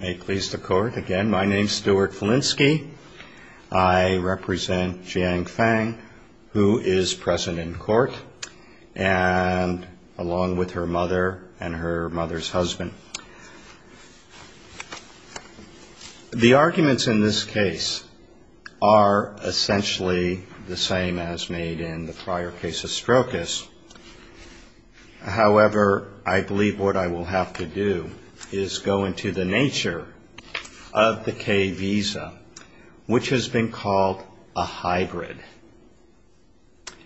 May it please the Court, again, my name is Stuart Filinski. I represent Jiang Fang, who is present in court, and along with her mother and her mother's husband. The arguments in this case are essentially the same as made in the prior case of Strokis. However, I believe what I will have to do is go into the nature of the K visa, which has been called a hybrid.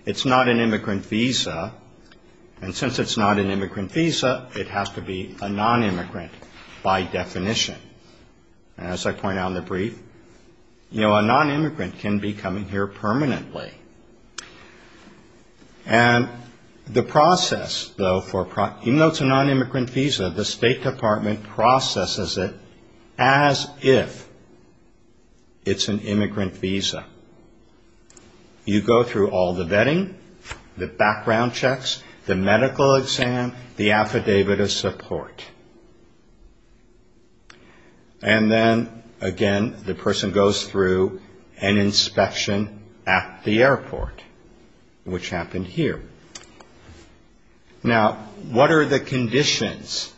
It's not an immigrant visa, and since it's not an immigrant visa, it has to be a non-immigrant by definition. As I point out in the brief, a non-immigrant can be coming here permanently. Even though it's a non-immigrant visa, the State Department processes it as if it's an immigrant visa. You go through all the vetting, the background checks, the medical exam, the affidavit of support. And then, again, the person goes through an inspection at the airport, which happened here. Now, what are the conditions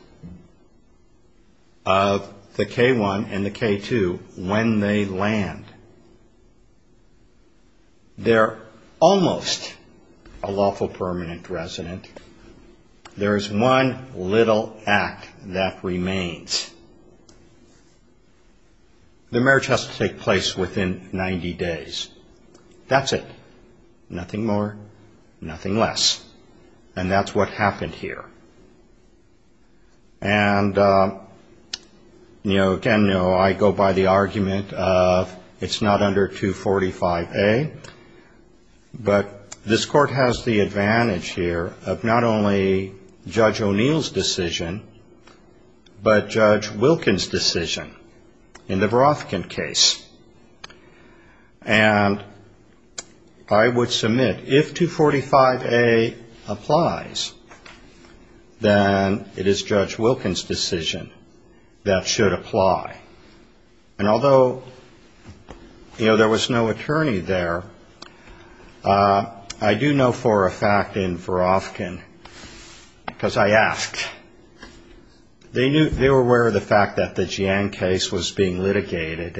of the K-1 and the K-2 when they land? They're almost a lawful permanent resident. There is one little act that remains. The marriage has to take place within 90 days. That's it. Nothing more, nothing less. And that's what happened here. And, again, I go by the argument of it's not under 245A, but this Court has the advantage here of not only Judge O'Neill's decision, but Judge Wilkin's decision in the Veroficant case. And I would submit, if 245A applies, then it is Judge Wilkin's decision that should apply. And although, you know, there was no attorney there, I do know for a fact in Veroficant, because I asked, they were aware of the fact that the Jiang case was being litigated.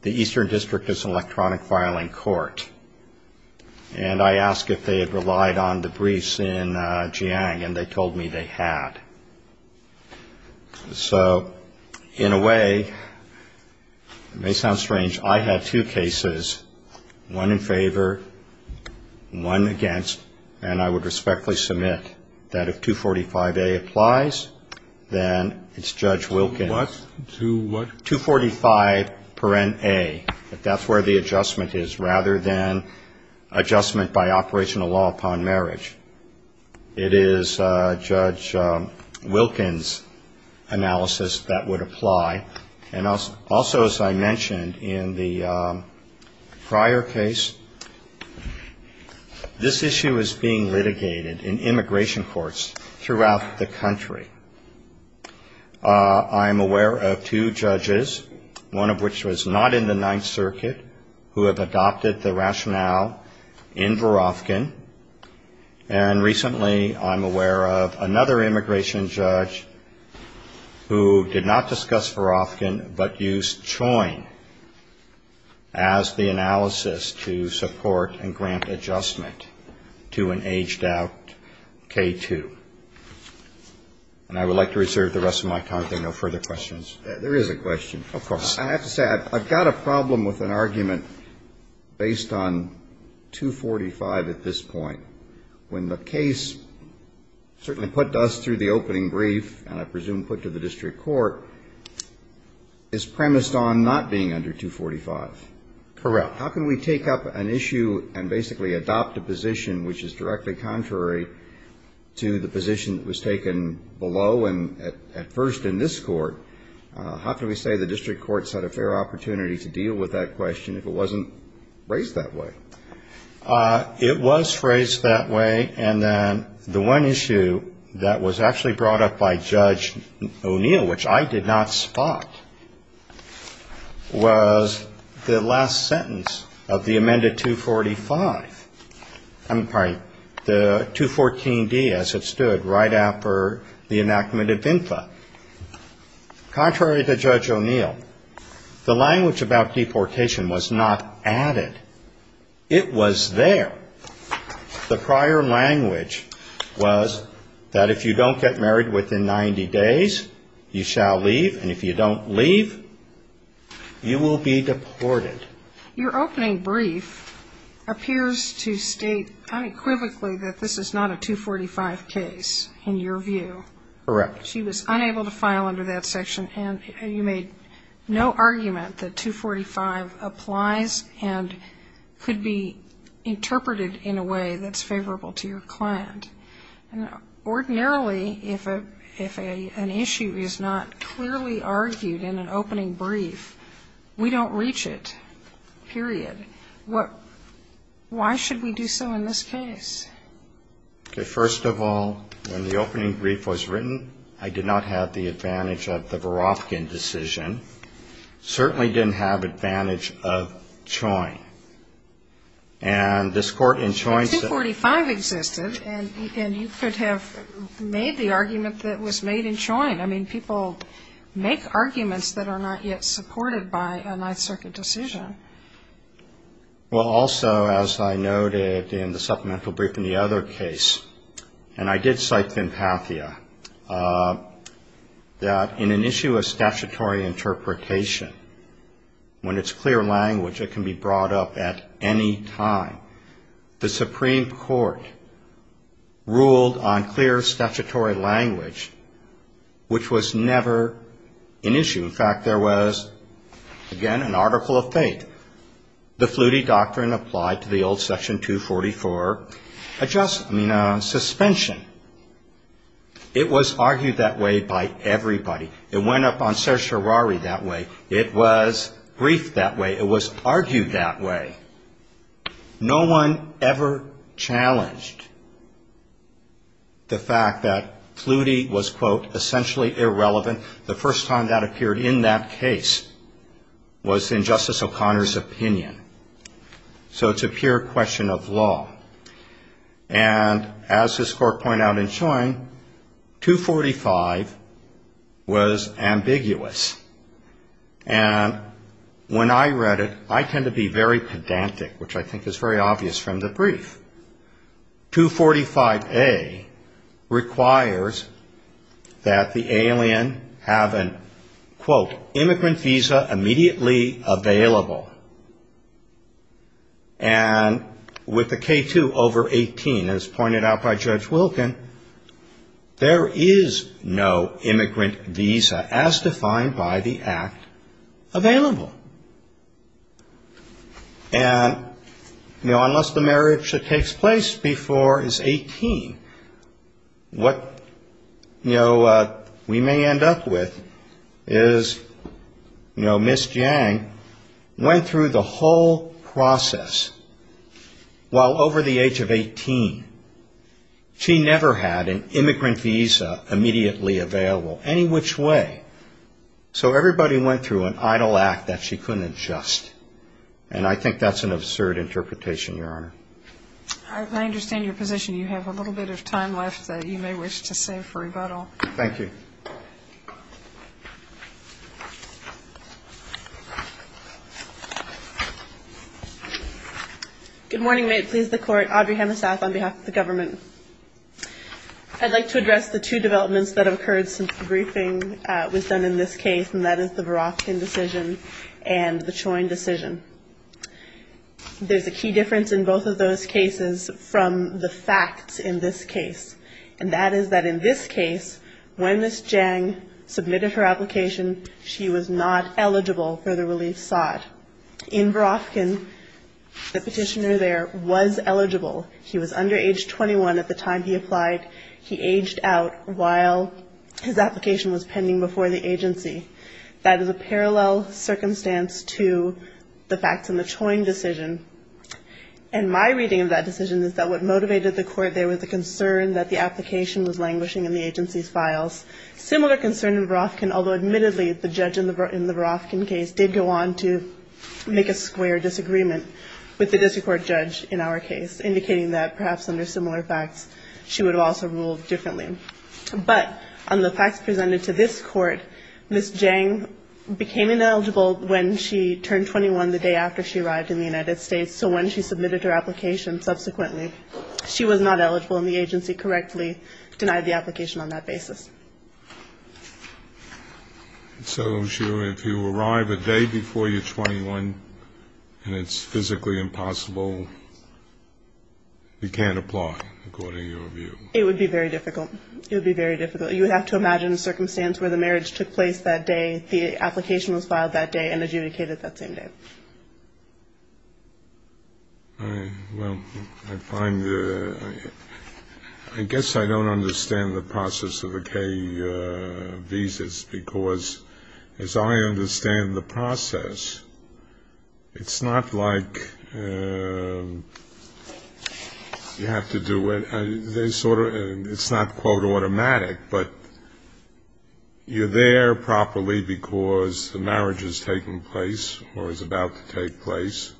The Eastern District is an electronic filing court. And I asked if they had relied on the briefs in Jiang, and they told me they had. So, in a way, it may sound strange, I had two cases, one in favor, one against, and I would respectfully submit that if 245A applies, then it's Judge Wilkin's. And also, as I mentioned in the prior case, this issue is being litigated in immigration courts throughout the country. I am aware of two judges, one of which was not in the Ninth Circuit, who have adopted the rationale in Veroficant. And recently, I'm aware of another immigration judge who did not discuss Veroficant, but used Choyne as the analysis to support and grant adjustment to an aged-out K-2. And I would like to reserve the rest of my time if there are no further questions. There is a question. Of course. I have to say, I've got a problem with an argument based on 245 at this point, when the case certainly put us through the opening brief, and I presume put to the district court, is premised on not being under 245. Correct. How can we take up an issue and basically adopt a position which is directly contrary to the position that was taken below and at first in this court? How can we say the district courts had a fair opportunity to deal with that question if it wasn't raised that way? It was phrased that way. And then the one issue that was actually brought up by Judge O'Neill, which I did not spot, was the last sentence of the amended 245. I'm sorry. The 214D, as it stood, right after the enactment of VINFA. Contrary to Judge O'Neill, the language about deportation was not added. It was there. The prior language was that if you don't get married within 90 days, you shall leave, and if you don't leave, you will be deported. Your opening brief appears to state unequivocally that this is not a 245 case, in your view. Correct. She was unable to file under that section, and you made no argument that 245 applies and could be interpreted in a way that's favorable to your client. Ordinarily, if an issue is not clearly argued in an opening brief, we don't reach it, period. Why should we do so in this case? Okay. First of all, when the opening brief was written, I did not have the advantage of the Verofkin decision. Certainly didn't have advantage of Choyne. And this Court in Choyne said But 245 existed, and you could have made the argument that was made in Choyne. I mean, people make arguments that are not yet supported by a Ninth Circuit decision. Well, also, as I noted in the supplemental brief in the other case, and I did cite Finpathia, that in an issue of statutory interpretation, when it's clear language, it can be brought up at any time. The Supreme Court ruled on clear statutory language, which was never an issue. In fact, there was, again, an article of fate. The Flutie doctrine applied to the old Section 244 suspension. It was argued that way by everybody. It went up on certiorari that way. It was briefed that way. It was argued that way. No one ever challenged the fact that Flutie was, quote, was in Justice O'Connor's opinion. So it's a pure question of law. And as this Court pointed out in Choyne, 245 was ambiguous. And when I read it, I tend to be very pedantic, which I think is very obvious from the brief. 245A requires that the alien have an, quote, immigrant visa immediately available. And with the K2 over 18, as pointed out by Judge Wilkin, there is no immigrant visa, as defined by the Act, available. And, you know, unless the marriage that takes place before is 18, what, you know, we may end up with is, you know, Ms. Jang went through the whole process while over the age of 18. She never had an immigrant visa immediately available any which way. So everybody went through an idle act that she couldn't adjust. And I think that's an absurd interpretation, Your Honor. I understand your position. You have a little bit of time left that you may wish to save for rebuttal. Thank you. Good morning. May it please the Court. Audrey Hammersath on behalf of the government. I'd like to address the two developments that have occurred since the briefing was done in this case, and that is the Barofkin decision and the Choyne decision. There's a key difference in both of those cases from the facts in this case. And that is that in this case, when Ms. Jang submitted her application, she was not eligible for the relief sought. In Barofkin, the petitioner there was eligible. He was under age 21 at the time he applied. He aged out while his application was pending before the agency. That is a parallel circumstance to the facts in the Choyne decision. And my reading of that decision is that what motivated the court there was the concern that the application was languishing in the agency's files. Similar concern in Barofkin, although admittedly the judge in the Barofkin case did go on to make a square disagreement with the district court judge in our case, indicating that perhaps under similar facts, she would have also ruled differently. But on the facts presented to this court, Ms. Jang became ineligible when she turned 21 the day after she arrived in the United States. So when she submitted her application, subsequently, she was not eligible and the agency correctly denied the application on that basis. So if you arrive a day before you're 21 and it's physically impossible, you can't apply, according to your view? It would be very difficult. It would be very difficult. You would have to imagine a circumstance where the marriage took place that day, the application was filed that day and adjudicated that same day. Well, I find the ‑‑ I guess I don't understand the process of a K visas, because as I understand the process, it's not like you have to do it. They sort of ‑‑ it's not quote automatic, but you're there properly because the marriage is taking place or is about to take place.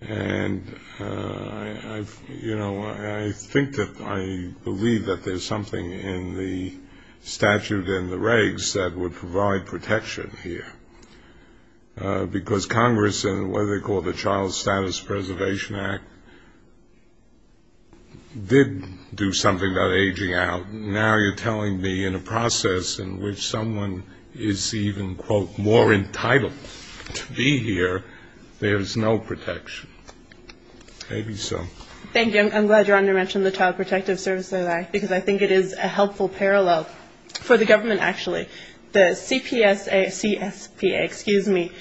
And I've, you know, I think that I believe that there's something in the statute and the regs that would provide protection here. Because Congress and what they call the Child Status Preservation Act did do something about aging out. Now you're telling me in a process in which someone is even, quote, more entitled to be here, there's no protection. Maybe so. Thank you. I'm glad you're on to mention the Child Protective Services Act, because I think it is a helpful parallel for the government, actually. The CPSA ‑‑ CSPA, excuse me,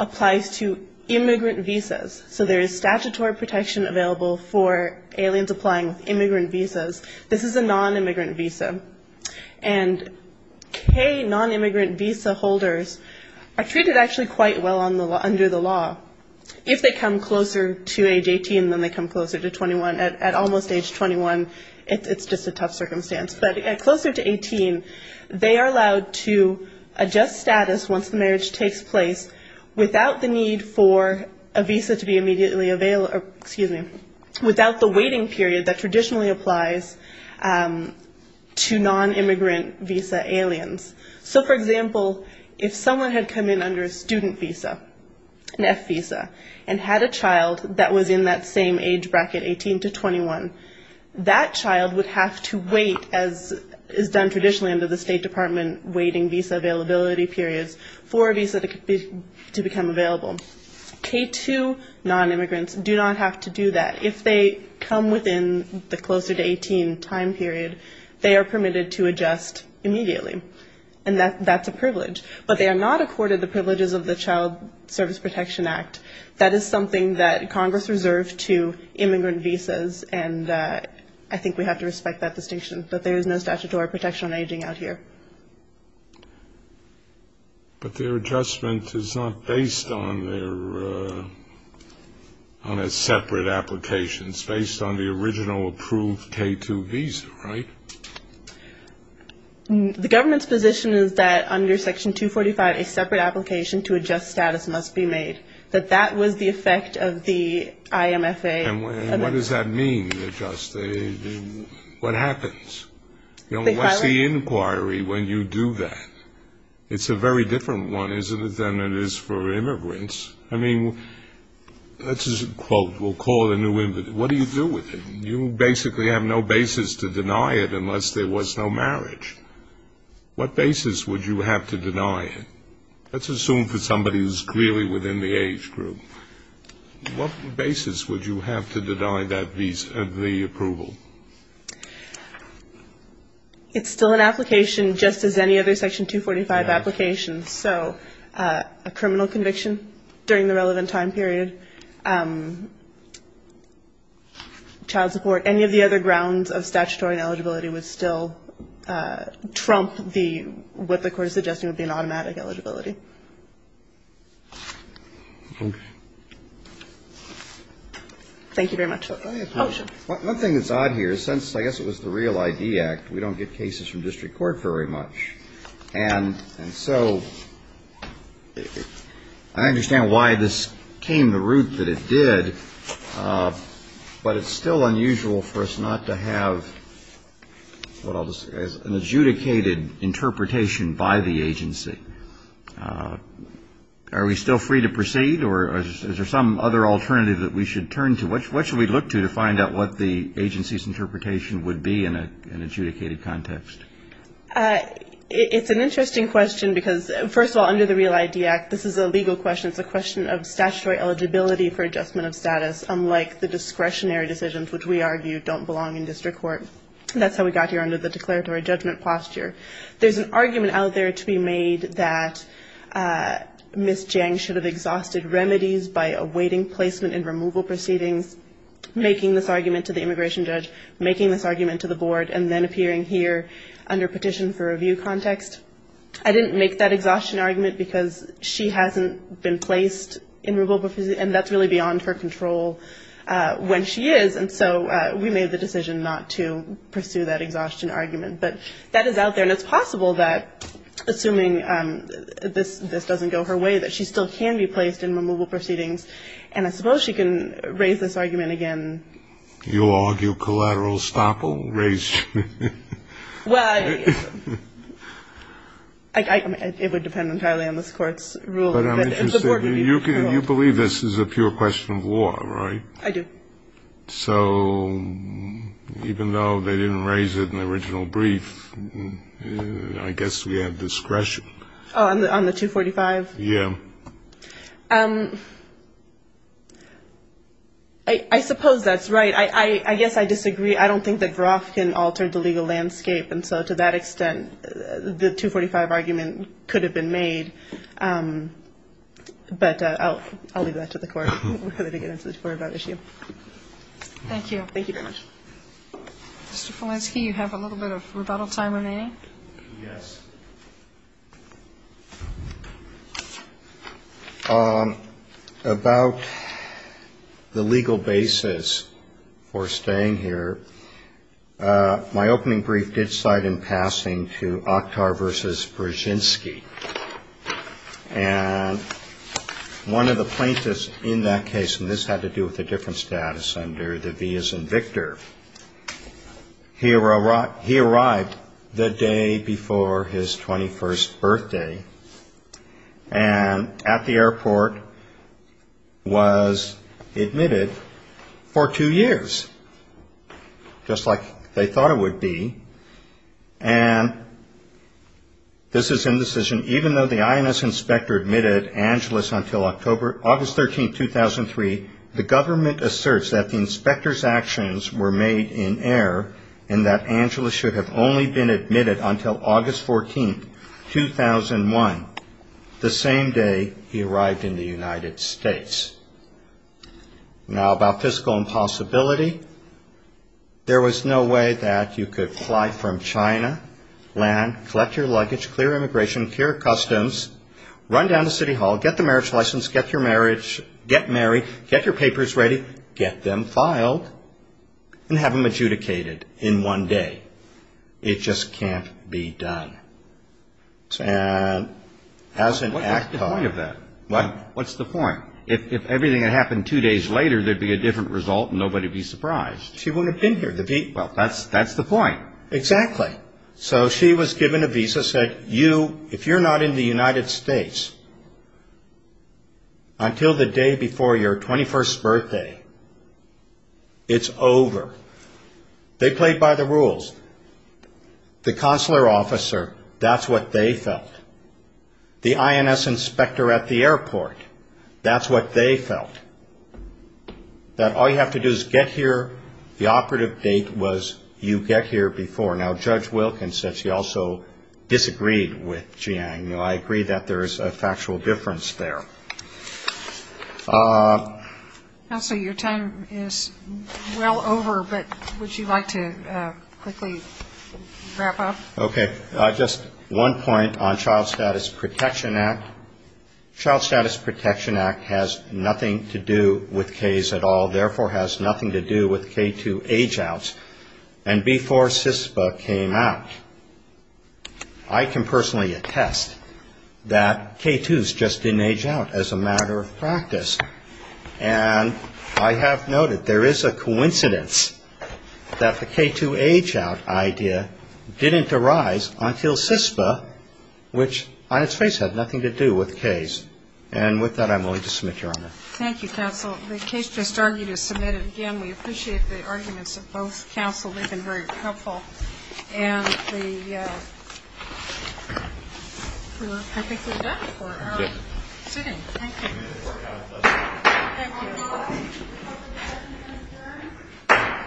applies to immigrant visas. So there is statutory protection available for aliens applying with immigrant visas. This is a nonimmigrant visa. And K nonimmigrant visa holders are treated actually quite well under the law. If they come closer to age 18, then they come closer to 21. At almost age 21, it's just a tough circumstance. But closer to 18, they are allowed to adjust status once the marriage takes place without the need for a visa to be immediately available ‑‑ excuse me, without the waiting period that traditionally applies to immigrant visas. If someone came under a student visa, an F visa, and had a child that was in that same age bracket, 18 to 21, that child would have to wait, as is done traditionally under the State Department, waiting visa availability periods for a visa to become available. K‑2 nonimmigrants do not have to do that. If they come within the closer to 18 time period, they are permitted to adjust immediately. And that's a privilege. But they are not accorded the privilege of waiting until the Child Service Protection Act. That is something that Congress reserved to immigrant visas. And I think we have to respect that distinction. But there is no statutory protection on aging out here. But their adjustment is not based on a separate application. It's based on the original approved K‑2 visa, right? The government's position is that under Section 245, a separate application to adjust status must be made. That that was the effect of the IMFA. And what does that mean, adjust? What happens? What's the inquiry when you do that? It's a very different one, isn't it, than it is for immigrants. I mean, this is a quote, we'll call it a new ‑‑ what do you do with it? You basically have no basis to deny it unless there was no marriage. What basis would you have to deny it? Let's assume for somebody who's clearly within the age group. What basis would you have to deny that visa, the approval? It's still an application, just as any other Section 245 application. So a criminal conviction during the relevant time period, child support, any of the other grounds under Section 245. So the absence of statutory eligibility would still trump what the court is suggesting would be an automatic eligibility. Thank you very much. One thing that's odd here, since I guess it was the Real ID Act, we don't get cases from district court very much. And so I understand why this came about. I understand the root that it did. But it's still unusual for us not to have an adjudicated interpretation by the agency. Are we still free to proceed? Or is there some other alternative that we should turn to? What should we look to to find out what the agency's interpretation would be in an adjudicated context? It's an interesting question, because first of all, under the Real ID Act, this is a legal question. It's a question of statutory eligibility for adjustment of status, unlike the discretionary decisions, which we argue don't belong in district court. That's how we got here under the declaratory judgment posture. There's an argument out there to be made that Ms. Jang should have exhausted remedies by awaiting placement and removal proceedings, making this argument to the immigration judge, making this argument to the immigration judge, under petition for review context. I didn't make that exhaustion argument, because she hasn't been placed in removal proceedings. And that's really beyond her control when she is. And so we made the decision not to pursue that exhaustion argument. But that is out there. And it's possible that, assuming this doesn't go her way, that she still can be placed in removal proceedings. And I suppose she can raise this argument again. You argue collateral estoppel? Well, it would depend entirely on this Court's ruling. But I'm interested, you believe this is a pure question of law, right? I do. So even though they didn't raise it in the original brief, I guess we have discretion. On the 245? I suppose that's right. I guess I disagree. I don't think that Veroff can alter the legal landscape. And so to that extent, the 245 argument could have been made. But I'll leave that to the Court. Thank you. Thank you very much. Mr. Felinski, you have a little bit of rebuttal time remaining? Yes. About the legal basis for staying here, my opening brief did cite in passing to Oktar v. Brzezinski. And one of the plaintiffs in that case, and this had to do with a different status under the vias in Victor, he arrived the day before his 21st birthday and at the airport was admitted for two years, just like they thought it would be. And this is indecision, even though the INS inspector admitted Angelus until August 13, 2003. The government asserts that the inspector's actions were made in error and that Angelus should have only been admitted until August 14, 2001, the same day he arrived in the United States. Now about fiscal impossibility, there was no way that you could fly from China, land, collect your luggage, clear immigration, cure customs, run down to City Hall, get the marriage license, get your marriage, get married, get married, get married, get married, get your papers ready, get them filed, and have them adjudicated in one day. It just can't be done. And as an act of... What's the point of that? What's the point? If everything had happened two days later, there'd be a different result and nobody would be surprised. She wouldn't have been here. Well, that's the point. Exactly. So she was given a visa, said, you, if you're not in the United States until the day before your 21st birthday, it's over. They played by the rules. The consular officer, that's what they felt. The INS inspector at the airport, that's what they felt. That all you have to do is get here, the operative date was you get here before. Now Judge Wilkins said she also disagreed with Jiang. I agree that there's a factual difference there. Counsel, your time is well over, but would you like to quickly wrap up? Okay. Just one point on Child Status Protection Act. Child Status Protection Act has nothing to do with K's at all, therefore has nothing to do with K2 age-outs. And before CISPA came out, I can personally attest that K2s just didn't age out as a matter of practice. And I have noted there is a coincidence that the K2 age-out idea didn't arise until CISPA, which on its face had nothing to do with it. And with that, I'm willing to submit, Your Honor. Thank you, Counsel. The case just argued is submitted. Again, we appreciate the arguments of both counsel. They've been very helpful. And we're perfectly done for our sitting. Thank you.